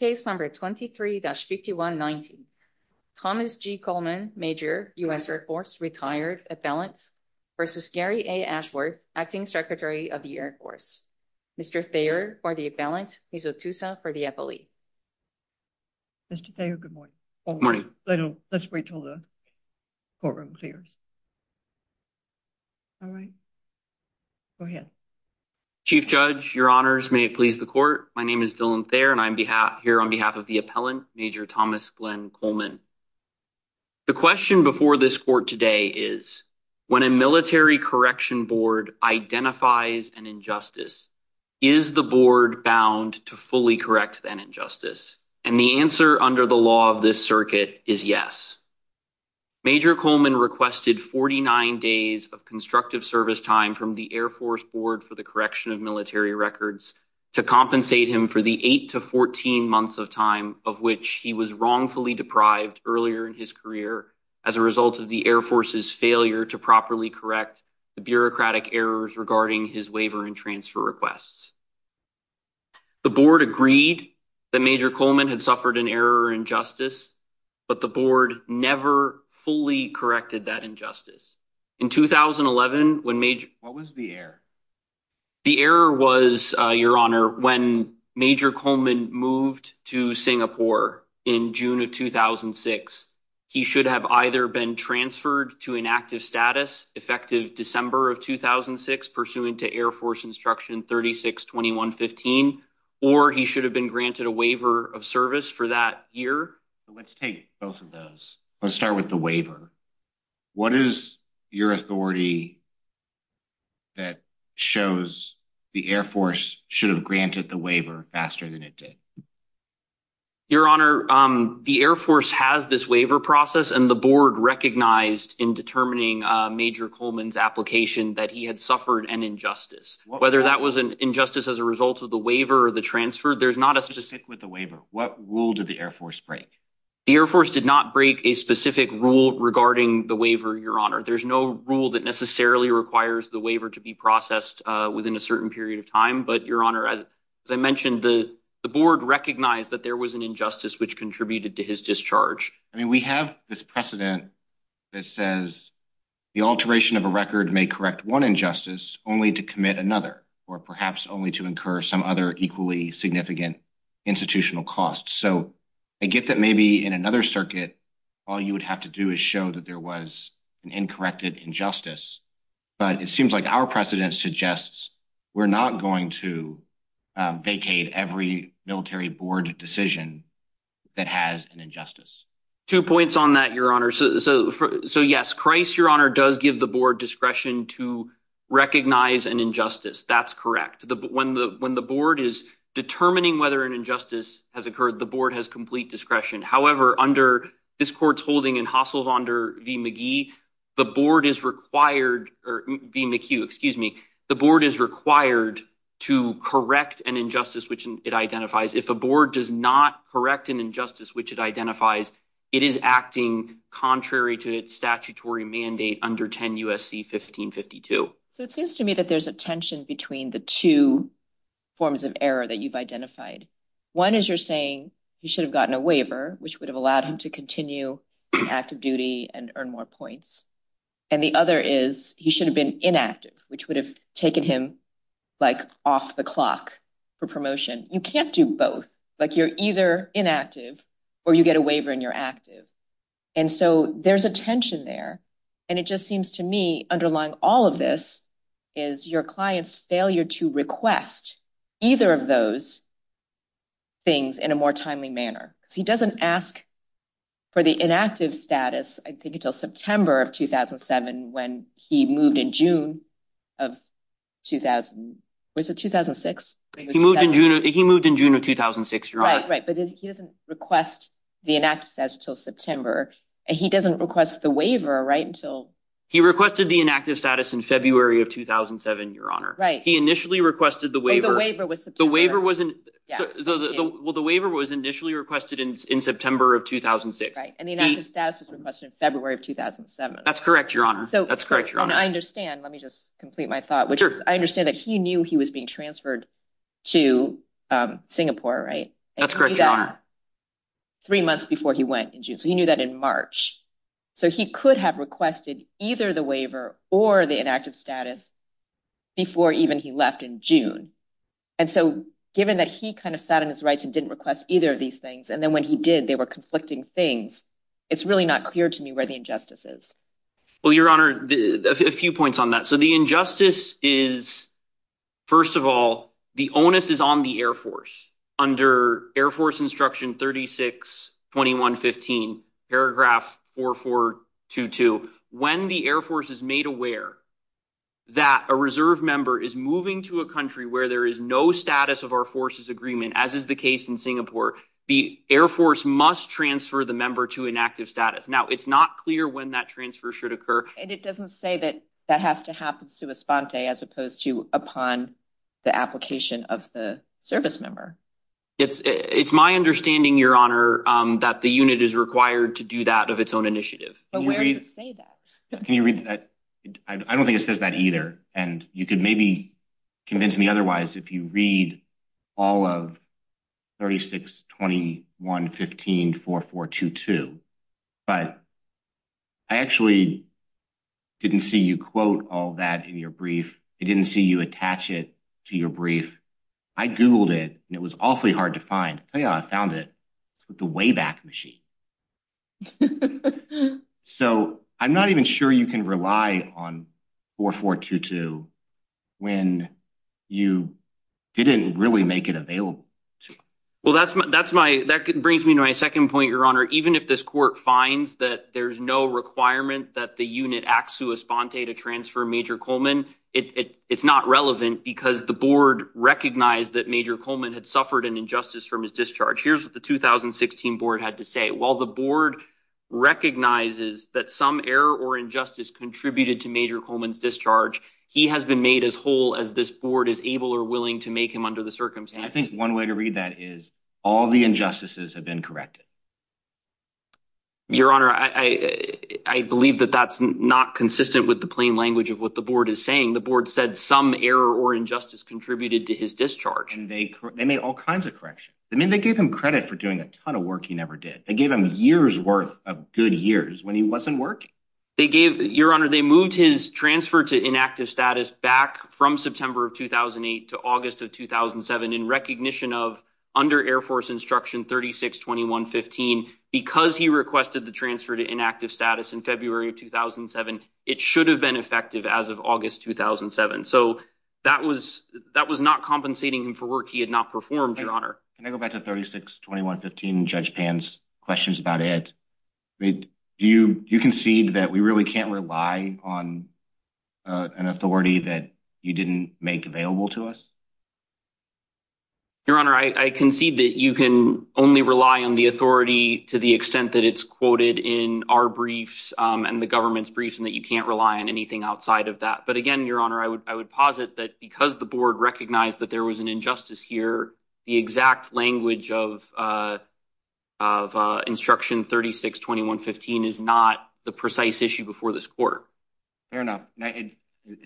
Case No. 23-519 Thomas G. Coleman, Major, U.S. Air Force, Retired, Appellant, v. Gary A. Ashworth, Acting Secretary of the Air Force Mr. Thayer for the Appellant, Ms. Otusa for the FLE Mr. Thayer, good morning. Good morning. Let's wait until the courtroom clears. Alright. Go ahead. Chief Judge, your honors, may it please the court, my name is Dylan Thayer and I'm here on behalf of the Appellant, Major Thomas Glenn Coleman. The question before this court today is, when a military correction board identifies an injustice, is the board bound to fully correct that injustice? And the answer under the law of this circuit is yes. Major Coleman requested 49 days of constructive service time from the Air Force Board for the correction of military records to compensate him for the 8 to 14 months of time of which he was wrongfully deprived earlier in his career as a result of the Air Force's failure to properly correct the bureaucratic errors regarding his waiver and transfer requests. The board agreed that Major Coleman had suffered an error or injustice, but the board never fully corrected that injustice. What was the error? The error was, your honor, when Major Coleman moved to Singapore in June of 2006, he should have either been transferred to inactive status, effective December of 2006, pursuant to Air Force Instruction 362115, or he should have been granted a waiver of service for that year. Let's take both of those. Let's start with the waiver. What is your authority that shows the Air Force should have granted the waiver faster than it did? Your honor, the Air Force has this waiver process and the board recognized in determining Major Coleman's application that he had suffered an injustice. Whether that was an injustice as a result of the waiver or the transfer, there's not a specific... Just stick with the waiver. What rule did the Air Force break? The Air Force did not break a specific rule regarding the waiver, your honor. There's no rule that necessarily requires the waiver to be processed within a certain period of time. But your honor, as I mentioned, the board recognized that there was an injustice which contributed to his discharge. I mean, we have this precedent that says the alteration of a record may correct one injustice only to commit another, or perhaps only to incur some other equally significant institutional costs. So I get that maybe in another circuit, all you would have to do is show that there was an incorrect injustice. But it seems like our precedent suggests we're not going to vacate every military board decision that has an injustice. Two points on that, your honor. So yes, Christ, your honor, does give the board discretion to recognize an injustice. That's correct. When the board is determining whether an injustice has occurred, the board has complete discretion. However, under this court's holding in Hasselhonder v. McGee, the board is required, or v. McHugh, excuse me, the board is required to correct an injustice which it identifies. If a board does not correct an injustice which it identifies, it is acting contrary to its statutory mandate under 10 U.S.C. 1552. So it seems to me that there's a tension between the two forms of error that you've identified. One is you're saying he should have gotten a waiver, which would have allowed him to continue active duty and earn more points. And the other is he should have been inactive, which would have taken him like off the clock for promotion. You can't do both. Like you're either inactive or you get a waiver and you're active. And so there's a tension there. And it just seems to me underlying all of this is your client's failure to request either of those things in a more timely manner. Because he doesn't ask for the inactive status, I think, until September of 2007 when he moved in June of 2000. Was it 2006? He moved in June of 2006. Right, right. But he doesn't request the inactive status until September. And he doesn't request the waiver. Right. Until he requested the inactive status in February of 2007. Your honor. Right. He initially requested the waiver. The waiver was the waiver was the waiver was initially requested in September of 2006. And the inactive status was requested in February of 2007. That's correct. Your honor. So that's correct. Your honor. I understand. Let me just complete my thought, which I understand that he knew he was being transferred to Singapore. Right. That's correct. Your honor. Three months before he went in June. So he knew that in March. So he could have requested either the waiver or the inactive status before even he left in June. And so given that he kind of sat on his rights and didn't request either of these things. And then when he did, they were conflicting things. It's really not clear to me where the injustice is. Well, your honor, a few points on that. So the injustice is, first of all, the onus is on the Air Force under Air Force Instruction 36, 21, 15, paragraph four, four, two, two. When the Air Force is made aware that a reserve member is moving to a country where there is no status of our forces agreement, as is the case in Singapore, the Air Force must transfer the member to an active status. Now, it's not clear when that transfer should occur. And it doesn't say that that has to happen to a sponte as opposed to upon the application of the service member. It's it's my understanding, your honor, that the unit is required to do that of its own initiative. Can you read that? I don't think it says that either. And you could maybe convince me otherwise if you read all of 36, 21, 15, four, four, two, two. But I actually didn't see you quote all that in your brief. I didn't see you attach it to your brief. I Googled it and it was awfully hard to find. I found it with the Wayback Machine. So I'm not even sure you can rely on four, four, two, two when you didn't really make it available. Well, that's that's my that brings me to my second point, your honor. Even if this court finds that there's no requirement that the unit acts to a sponte to transfer Major Coleman, it's not relevant because the board recognized that Major Coleman had suffered an injustice from his discharge. Here's what the 2016 board had to say. While the board recognizes that some error or injustice contributed to Major Coleman's discharge, he has been made as whole as this board is able or willing to make him under the circumstances. I think one way to read that is all the injustices have been corrected. Your honor, I believe that that's not consistent with the plain language of what the board is saying. The board said some error or injustice contributed to his discharge and they made all kinds of correction. I mean, they gave him credit for doing a ton of work he never did. They gave him years worth of good years when he wasn't working. Your honor, they moved his transfer to inactive status back from September of 2008 to August of 2007 in recognition of under Air Force Instruction 362115, because he requested the transfer to inactive status in February of 2007. It should have been effective as of August 2007. So that was that was not compensating him for work he had not performed, your honor. Can I go back to 362115 Judge Pan's questions about it? You concede that we really can't rely on an authority that you didn't make available to us. Your honor, I concede that you can only rely on the authority to the extent that it's quoted in our briefs and the government's briefs and that you can't rely on anything outside of that. But again, your honor, I would I would posit that because the board recognized that there was an injustice here, the exact language of of instruction 362115 is not the precise issue before this court. Fair enough. It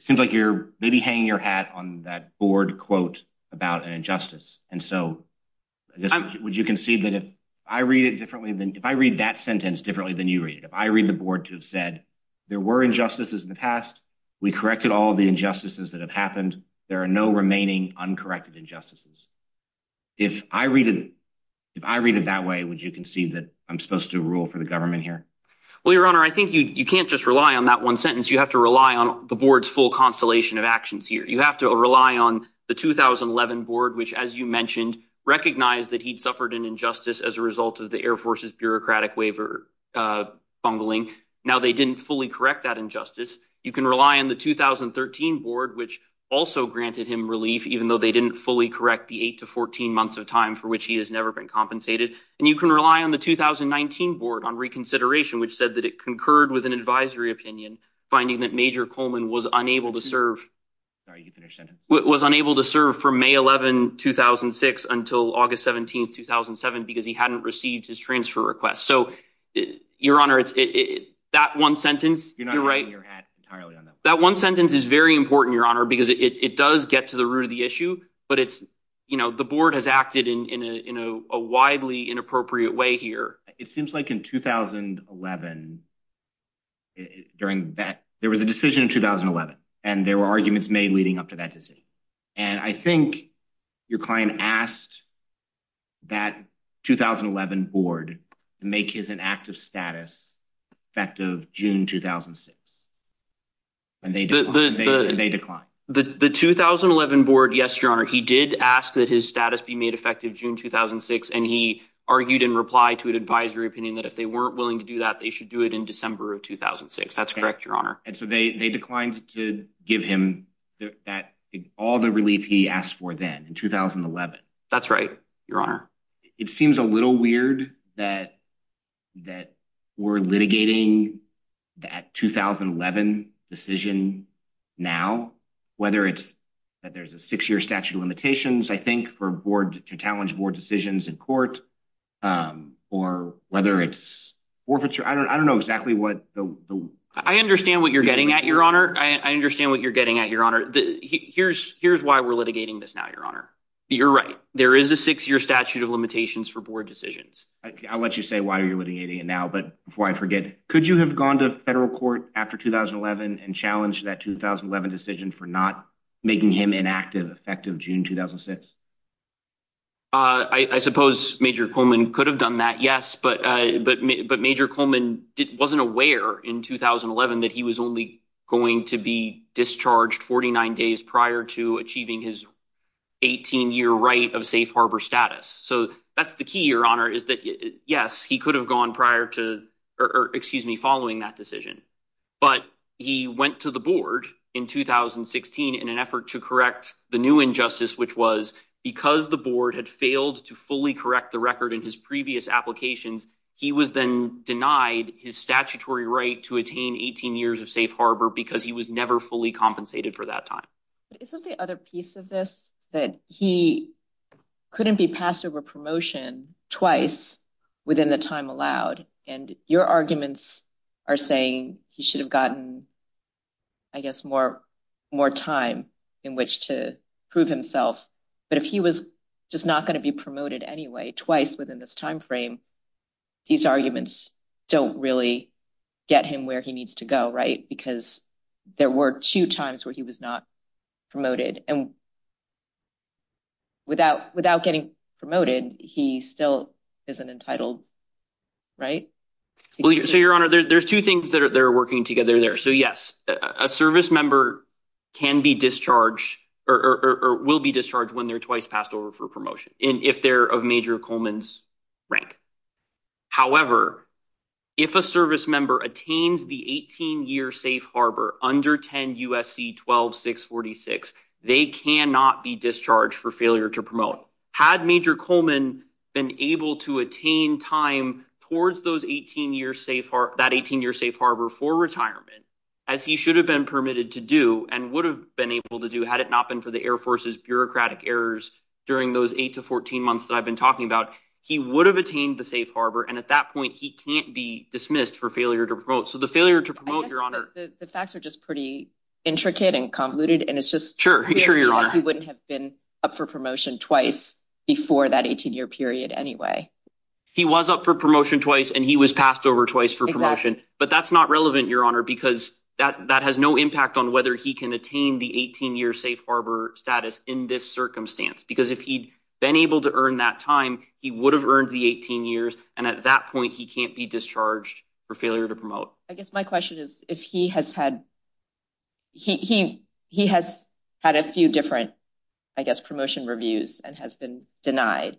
seems like you're maybe hanging your hat on that board quote about an injustice. And so would you concede that if I read it differently than if I read that sentence differently than you read it, if I read the board to have said there were injustices in the past, we corrected all the injustices that have happened. There are no remaining uncorrected injustices. If I read it, if I read it that way, would you concede that I'm supposed to rule for the government here? Well, your honor, I think you can't just rely on that one sentence. You have to rely on the board's full constellation of actions here. You have to rely on the 2011 board, which, as you mentioned, recognized that he'd suffered an injustice as a result of the Air Force's bureaucratic waiver bungling. Now, they didn't fully correct that injustice. You can rely on the 2013 board, which also granted him relief, even though they didn't fully correct the eight to 14 months of time for which he has never been compensated. And you can rely on the 2019 board on reconsideration, which said that it concurred with an advisory opinion, finding that Major Coleman was unable to serve. Are you finished? It was unable to serve from May 11, 2006 until August 17, 2007, because he hadn't received his transfer request. So, your honor, it's that one sentence. You're right. That one sentence is very important, your honor, because it does get to the root of the issue. But it's you know, the board has acted in a widely inappropriate way here. It seems like in 2011, during that, there was a decision in 2011, and there were arguments made leading up to that decision. And I think your client asked that 2011 board to make his inactive status effective June 2006, and they declined. The 2011 board, yes, your honor, he did ask that his status be made effective June 2006. And he argued in reply to an advisory opinion that if they weren't willing to do that, they should do it in December of 2006. That's correct, your honor. And so they declined to give him that all the relief he asked for then in 2011. That's right, your honor. It seems a little weird that we're litigating that 2011 decision now, whether it's that there's a six-year statute of limitations, I think, for board to challenge board decisions in court, or whether it's forfeiture. I don't know exactly what the… I understand what you're getting at, your honor. I understand what you're getting at, your honor. Here's why we're litigating this now, your honor. You're right. There is a six-year statute of limitations for board decisions. I'll let you say why you're litigating it now, but before I forget, could you have gone to federal court after 2011 and challenged that 2011 decision for not making him inactive effective June 2006? I suppose Major Coleman could have done that, yes, but Major Coleman wasn't aware in 2011 that he was only going to be discharged 49 days prior to achieving his 18-year right of safe harbor status. So that's the key, your honor, is that, yes, he could have gone following that decision, but he went to the board in 2016 in an effort to correct the new injustice, which was because the board had failed to fully correct the record in his previous applications, he was then denied his statutory right to attain 18 years of safe harbor because he was never fully compensated for that time. But isn't the other piece of this that he couldn't be passed over promotion twice within the time allowed, and your arguments are saying he should have gotten, I guess, more time in which to prove himself, but if he was just not going to be promoted anyway twice within this timeframe, these arguments don't really get him where he needs to go, right? Because there were two times where he was not promoted, and without getting promoted, he still isn't entitled, right? So, your honor, there's two things that are working together there. So, yes, a service member can be discharged or will be discharged when they're twice passed over for promotion, if they're of Major Coleman's rank. However, if a service member attains the 18-year safe harbor under 10 USC 12646, they cannot be discharged for failure to promote. Had Major Coleman been able to attain time towards that 18-year safe harbor for retirement, as he should have been permitted to do and would have been able to do had it not been for the Air Force's bureaucratic errors during those 8 to 14 months that I've been talking about, he would have attained the safe harbor, and at that point, he can't be dismissed for failure to promote. So, the failure to promote, your honor… I guess the facts are just pretty intricate and convoluted, and it's just weird that he wouldn't have been up for promotion twice before that 18-year period anyway. He was up for promotion twice, and he was passed over twice for promotion, but that's not relevant, your honor, because that has no impact on whether he can attain the 18-year safe harbor status in this circumstance, because if he'd been able to earn that time, he would have earned the 18 years, and at that point, he can't be discharged for failure to promote. So, I guess my question is, if he has had a few different, I guess, promotion reviews and has been denied,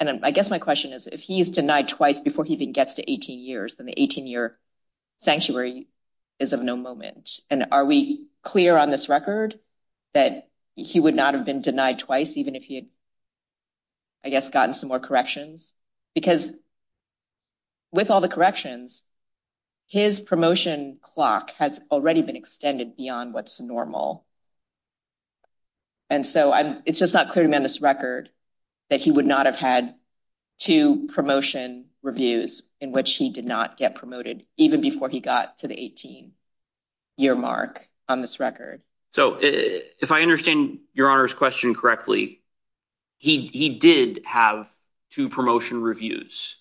and I guess my question is, if he is denied twice before he even gets to 18 years, then the 18-year sanctuary is of no moment, and are we clear on this record that he would not have been denied twice even if he had, I guess, gotten some more corrections? Because with all the corrections, his promotion clock has already been extended beyond what's normal, and so it's just not clear to me on this record that he would not have had two promotion reviews in which he did not get promoted even before he got to the 18-year mark on this record. So, if I understand your honor's question correctly, he did have two promotion reviews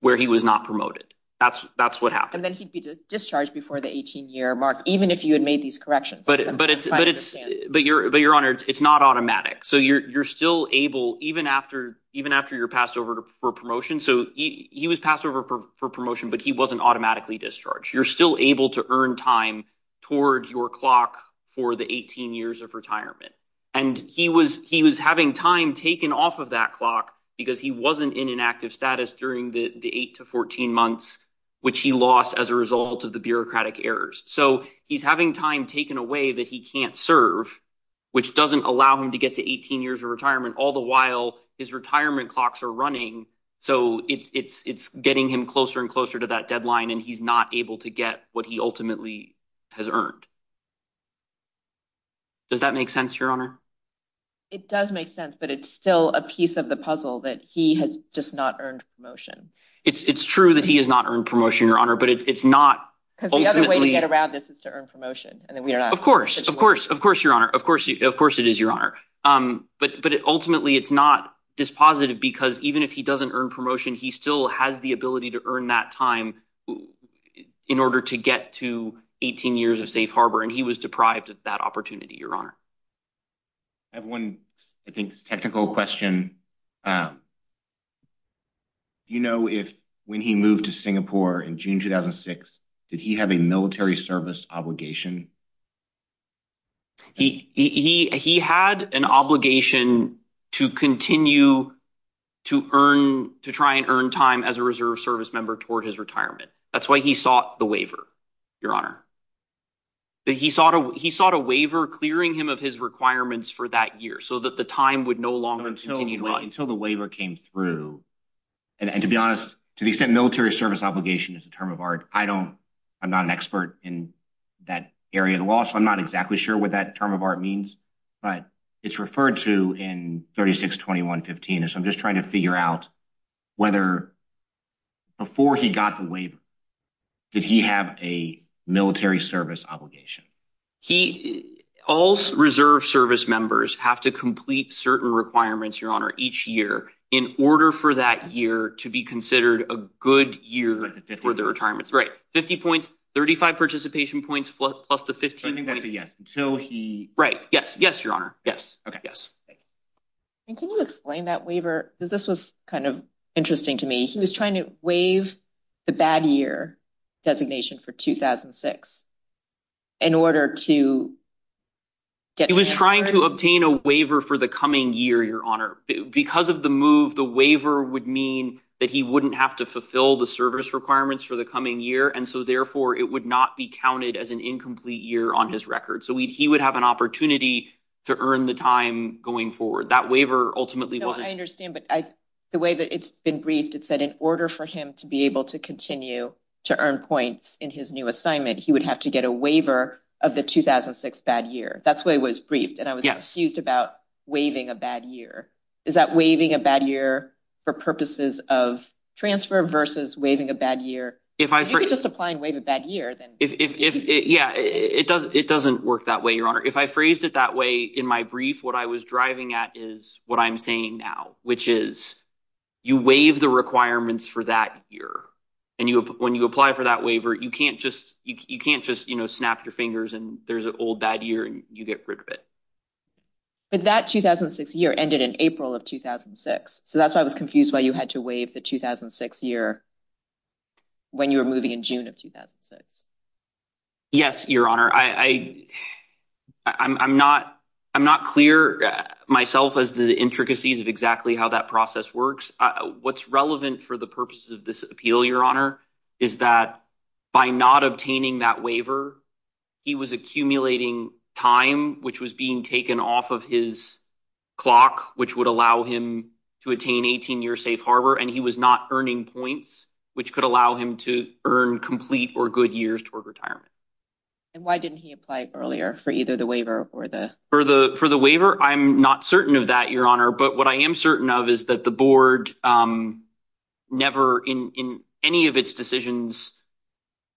where he was not promoted. That's what happened. And then he'd be discharged before the 18-year mark, even if you had made these corrections. But your honor, it's not automatic. So, you're still able, even after you're passed over for promotion. So, he was passed over for promotion, but he wasn't automatically discharged. You're still able to earn time toward your clock for the 18 years of retirement. And he was having time taken off of that clock because he wasn't in an active status during the 8 to 14 months, which he lost as a result of the bureaucratic errors. So, he's having time taken away that he can't serve, which doesn't allow him to get to 18 years of retirement, all the while his retirement clocks are running. So, it's getting him closer and closer to that deadline, and he's not able to get what he ultimately has earned. Does that make sense, your honor? It does make sense, but it's still a piece of the puzzle that he has just not earned promotion. It's true that he has not earned promotion, your honor, but it's not… Because the other way to get around this is to earn promotion. Of course. Of course, your honor. Of course it is, your honor. But ultimately, it's not dispositive because even if he doesn't earn promotion, he still has the ability to earn that time in order to get to 18 years of safe harbor, and he was deprived of that opportunity, your honor. I have one, I think, technical question. Do you know if when he moved to Singapore in June 2006, did he have a military service obligation? He had an obligation to continue to try and earn time as a reserve service member toward his retirement. That's why he sought the waiver, your honor. He sought a waiver clearing him of his requirements for that year so that the time would no longer continue to run. Until the waiver came through, and to be honest, to the extent military service obligation is a term of art, I'm not an expert in that area of the law, so I'm not exactly sure what that term of art means. But it's referred to in 362115, so I'm just trying to figure out whether before he got the waiver, did he have a military service obligation? All reserve service members have to complete certain requirements, your honor, each year in order for that year to be considered a good year for their retirement. Right, 50 points, 35 participation points, plus the 15 points. I think that's a yes. Right, yes, yes, your honor. Yes. Okay. Yes. Thank you. Can you explain that waiver? This was kind of interesting to me. He was trying to waive the bad year designation for 2006 in order to get... He was trying to obtain a waiver for the coming year, your honor. Because of the move, the waiver would mean that he wouldn't have to fulfill the service requirements for the coming year, and so therefore it would not be counted as an incomplete year on his record. So he would have an opportunity to earn the time going forward. That waiver ultimately wasn't... No, I understand, but the way that it's been briefed, it said in order for him to be able to continue to earn points in his new assignment, he would have to get a waiver of the 2006 bad year. That's the way it was briefed. Yes. I'm confused about waiving a bad year. Is that waiving a bad year for purposes of transfer versus waiving a bad year? If I... If you could just apply and waive a bad year, then... Yeah, it doesn't work that way, your honor. If I phrased it that way in my brief, what I was driving at is what I'm saying now, which is you waive the requirements for that year, and when you apply for that waiver, you can't just snap your fingers and there's an old bad year and you get rid of it. But that 2006 year ended in April of 2006, so that's why I was confused why you had to waive the 2006 year when you were moving in June of 2006. Yes, your honor. I'm not clear myself as to the intricacies of exactly how that process works. What's relevant for the purposes of this appeal, your honor, is that by not obtaining that waiver, he was accumulating time, which was being taken off of his clock, which would allow him to attain 18 years safe harbor, and he was not earning points, which could allow him to earn complete or good years toward retirement. And why didn't he apply earlier for either the waiver or the... For the waiver, I'm not certain of that, your honor, but what I am certain of is that the board never in any of its decisions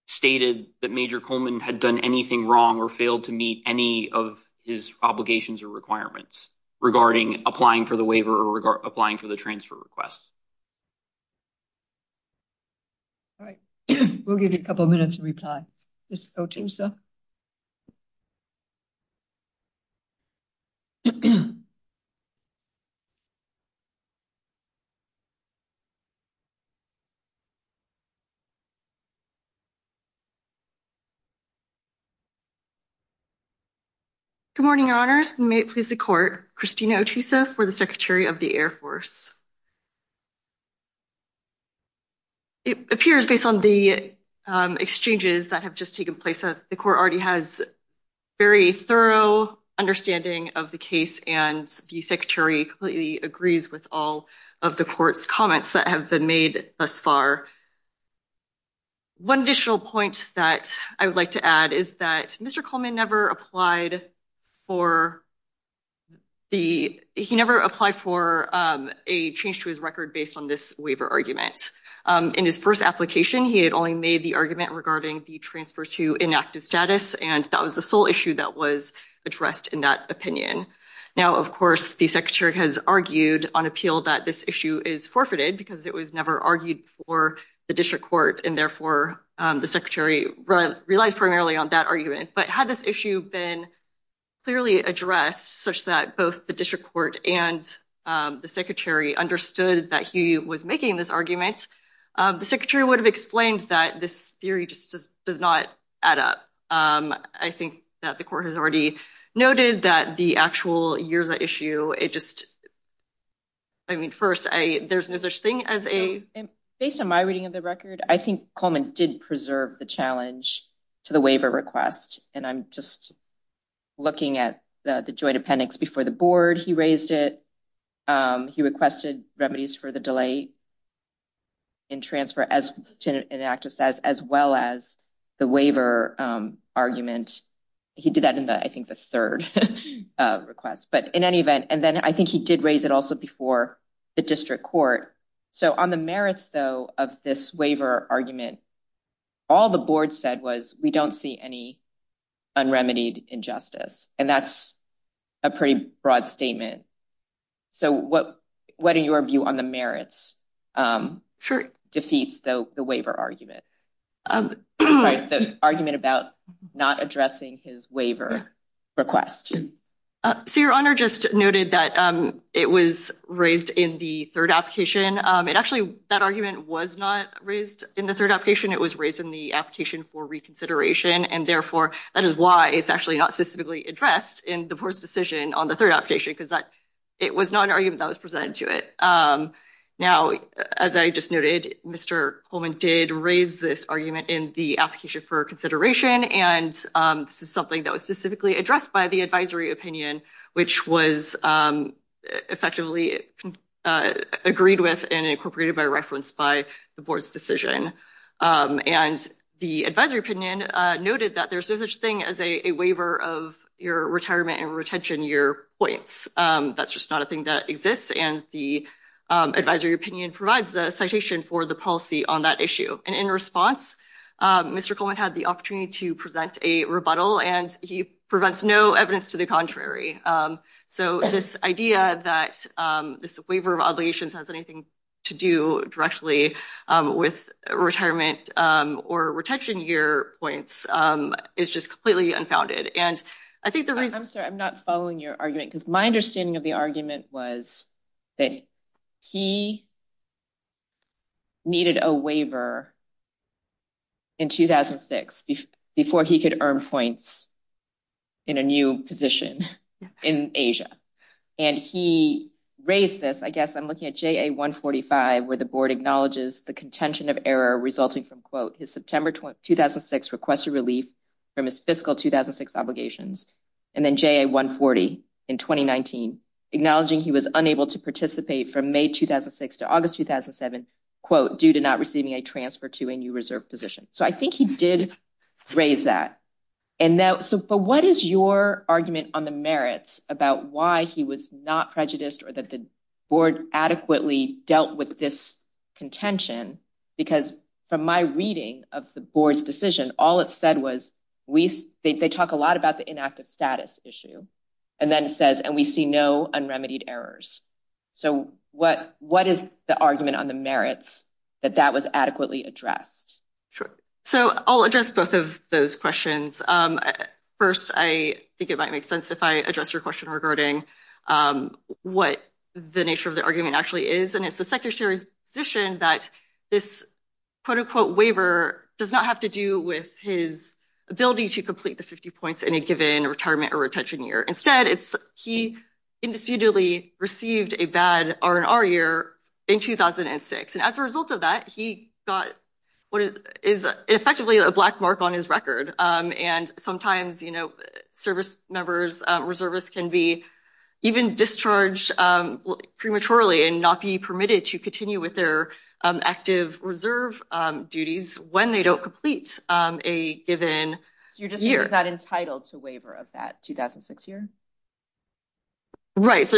stated that Major Coleman had done anything wrong or failed to meet any of his obligations or requirements regarding applying for the waiver or applying for the transfer request. All right, we'll give you a couple of minutes to reply. Good morning, your honors. May it please the court. Christina Otusa for the Secretary of the Air Force. It appears, based on the exchanges that have just taken place, the court already has very thorough understanding of the case, and the secretary completely agrees with all of the court's comments that have been made thus far. One additional point that I would like to add is that Mr. Coleman never applied for the... He never applied for a change to his record based on this waiver argument. In his first application, he had only made the argument regarding the transfer to inactive status, and that was the sole issue that was addressed in that opinion. Now, of course, the secretary has argued on appeal that this issue is forfeited because it was never argued for the district court, and therefore, the secretary relies primarily on that argument, but had this issue been clearly addressed such that both the district court and the secretary understood that he was making this argument, the secretary would have explained that this theory just does not add up. I think that the court has already noted that the actual years at issue, it just... I mean, first, there's no such thing as a... Based on my reading of the record, I think Coleman did preserve the challenge to the waiver request, and I'm just looking at the joint appendix before the board. He raised it. He requested remedies for the delay in transfer to inactive status, as well as the waiver argument. He did that in, I think, the third request, but in any event... And then I think he did raise it also before the district court. So on the merits, though, of this waiver argument, all the board said was, we don't see any unremitied injustice, and that's a pretty broad statement. So what are your view on the merits defeats the waiver argument, the argument about not addressing his waiver request? So your honor just noted that it was raised in the third application. It actually... That argument was not raised in the third application. It was raised in the application for reconsideration. And therefore, that is why it's actually not specifically addressed in the board's decision on the third application, because it was not an argument that was presented to it. Now, as I just noted, Mr. Coleman did raise this argument in the application for consideration, and this is something that was specifically addressed by the advisory opinion, which was effectively agreed with and incorporated by reference by the board's decision. And the advisory opinion noted that there's no such thing as a waiver of your retirement and retention year points. That's just not a thing that exists, and the advisory opinion provides the citation for the policy on that issue. And in response, Mr. Coleman had the opportunity to present a rebuttal, and he provides no evidence to the contrary. So this idea that this waiver of obligations has anything to do directly with retirement or retention year points is just completely unfounded. And I think the reason... I'm sorry, I'm not following your argument, because my understanding of the argument was that he needed a waiver in 2006 before he could earn points in a new position in Asia. And he raised this, I guess, I'm looking at JA-145, where the board acknowledges the contention of error resulting from, quote, his September 2006 requested relief from his fiscal 2006 obligations, and then JA-140 in 2019, acknowledging he was unable to participate from May 2006 to August 2007, quote, due to not receiving a transfer to a new reserve position. So I think he did raise that. But what is your argument on the merits about why he was not prejudiced or that the board adequately dealt with this contention? Because from my reading of the board's decision, all it said was they talk a lot about the inactive status issue, and then it says, and we see no unremitied errors. So what is the argument on the merits that that was adequately addressed? So I'll address both of those questions. First, I think it might make sense if I address your question regarding what the nature of the argument actually is. And it's the secretary's position that this, quote, unquote, waiver does not have to do with his ability to complete the 50 points in a given retirement or retention year. Instead, it's he indisputably received a bad R&R year in 2006. And as a result of that, he got what is effectively a black mark on his record. And sometimes, you know, service members, reservists can be even discharged prematurely and not be permitted to continue with their active reserve duties when they don't complete a given year. Is that entitled to waiver of that 2006 year? And that's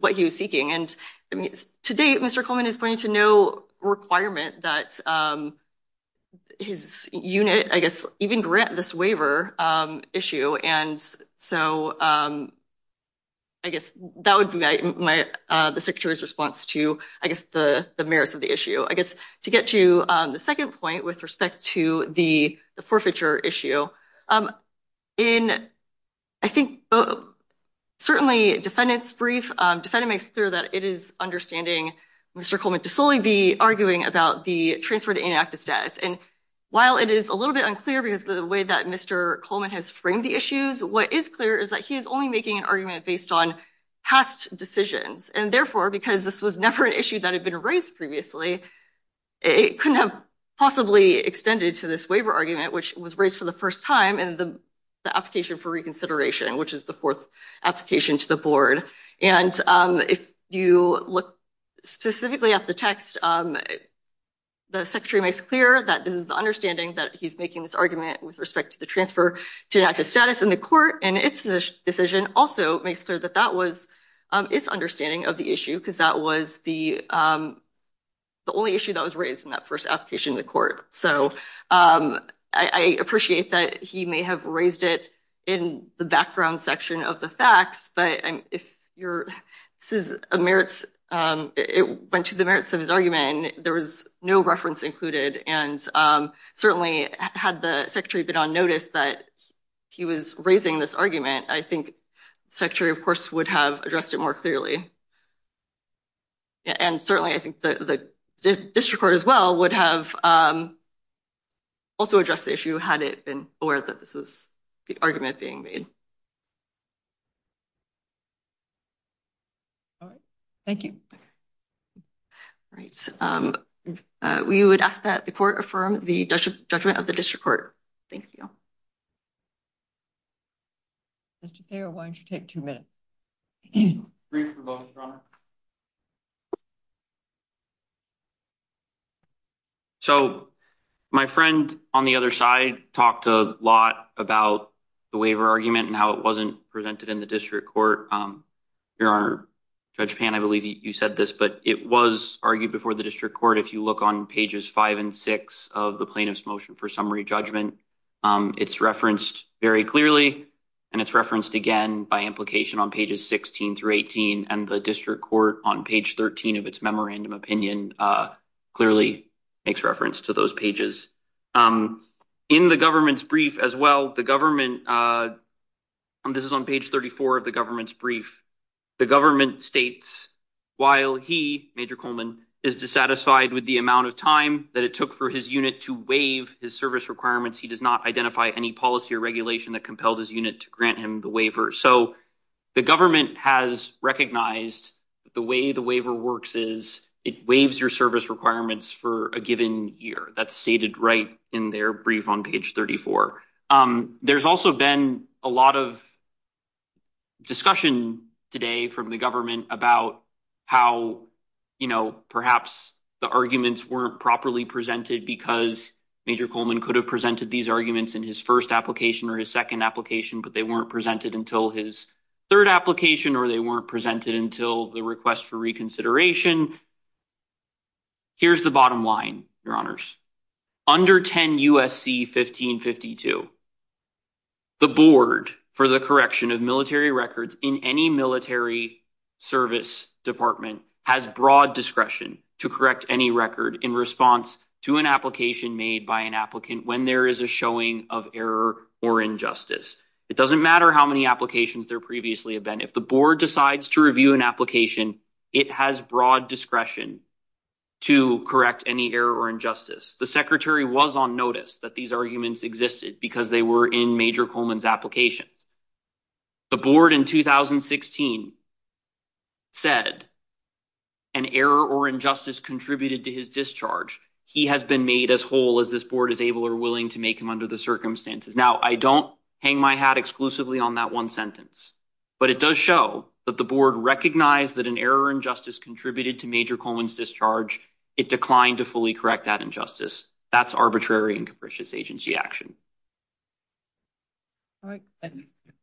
what he was seeking. And to date, Mr. Coleman is pointing to no requirement that his unit, I guess, even grant this waiver issue. And so I guess that would be the secretary's response to, I guess, the merits of the issue. I guess to get to the second point with respect to the forfeiture issue, in, I think, certainly, defendant's brief, defendant makes clear that it is understanding Mr. Coleman to solely be arguing about the transfer to inactive status. And while it is a little bit unclear because of the way that Mr. Coleman has framed the issues, what is clear is that he is only making an argument based on past decisions. And therefore, because this was never an issue that had been raised previously, it couldn't have possibly extended to this waiver argument, which was raised for the first time in the application for reconsideration, which is the fourth application to the board. And if you look specifically at the text, the secretary makes clear that this is the understanding that he's making this argument with respect to the transfer to inactive status in the court. And its decision also makes clear that that was its understanding of the issue, because that was the only issue that was raised in that first application to the court. So I appreciate that he may have raised it in the background section of the facts, but if your merits, it went to the merits of his argument, there was no reference included. All right. Thank you. Right. We would ask that the court affirm the judgment of the district court. Thank you. Why don't you take two minutes. So, my friend on the other side, talked a lot about the waiver argument and how it wasn't presented in the district court. Your honor, I believe you said this, but it was argued before the district court. If you look on pages, 5 and 6 of the plaintiff's motion for summary judgment, it's referenced very clearly. And it's referenced again by implication on pages 16 through 18 and the district court on page 13 of its memorandum opinion clearly makes reference to those pages. In the government's brief as well, the government, and this is on page 34 of the government's brief, the government states, while he major Coleman is dissatisfied with the amount of time that it took for his unit to waive his service requirements. He does not identify any policy or regulation that compelled his unit to grant him the waiver. So, the government has recognized the way the waiver works is it waives your service requirements for a given year. That's stated right in their brief on page 34. There's also been a lot of discussion today from the government about how, you know, perhaps the arguments weren't properly presented because major Coleman could have presented these arguments in his first application or his second application, but they weren't presented until his third application, or they weren't presented until the request for reconsideration. Here's the bottom line, your honors. Under 10 USC 1552, the board for the correction of military records in any military service department has broad discretion to correct any record in response to an application made by an applicant when there is a showing of error or injustice. It doesn't matter how many applications there previously have been. If the board decides to review an application, it has broad discretion to correct any error or injustice. The secretary was on notice that these arguments existed because they were in major Coleman's applications. The board in 2016 said an error or injustice contributed to his discharge. He has been made as whole as this board is able or willing to make him under the circumstances. Now, I don't hang my hat exclusively on that 1 sentence. But it does show that the board recognize that an error and justice contributed to major Coleman's discharge. It declined to fully correct that injustice. That's arbitrary and capricious agency action.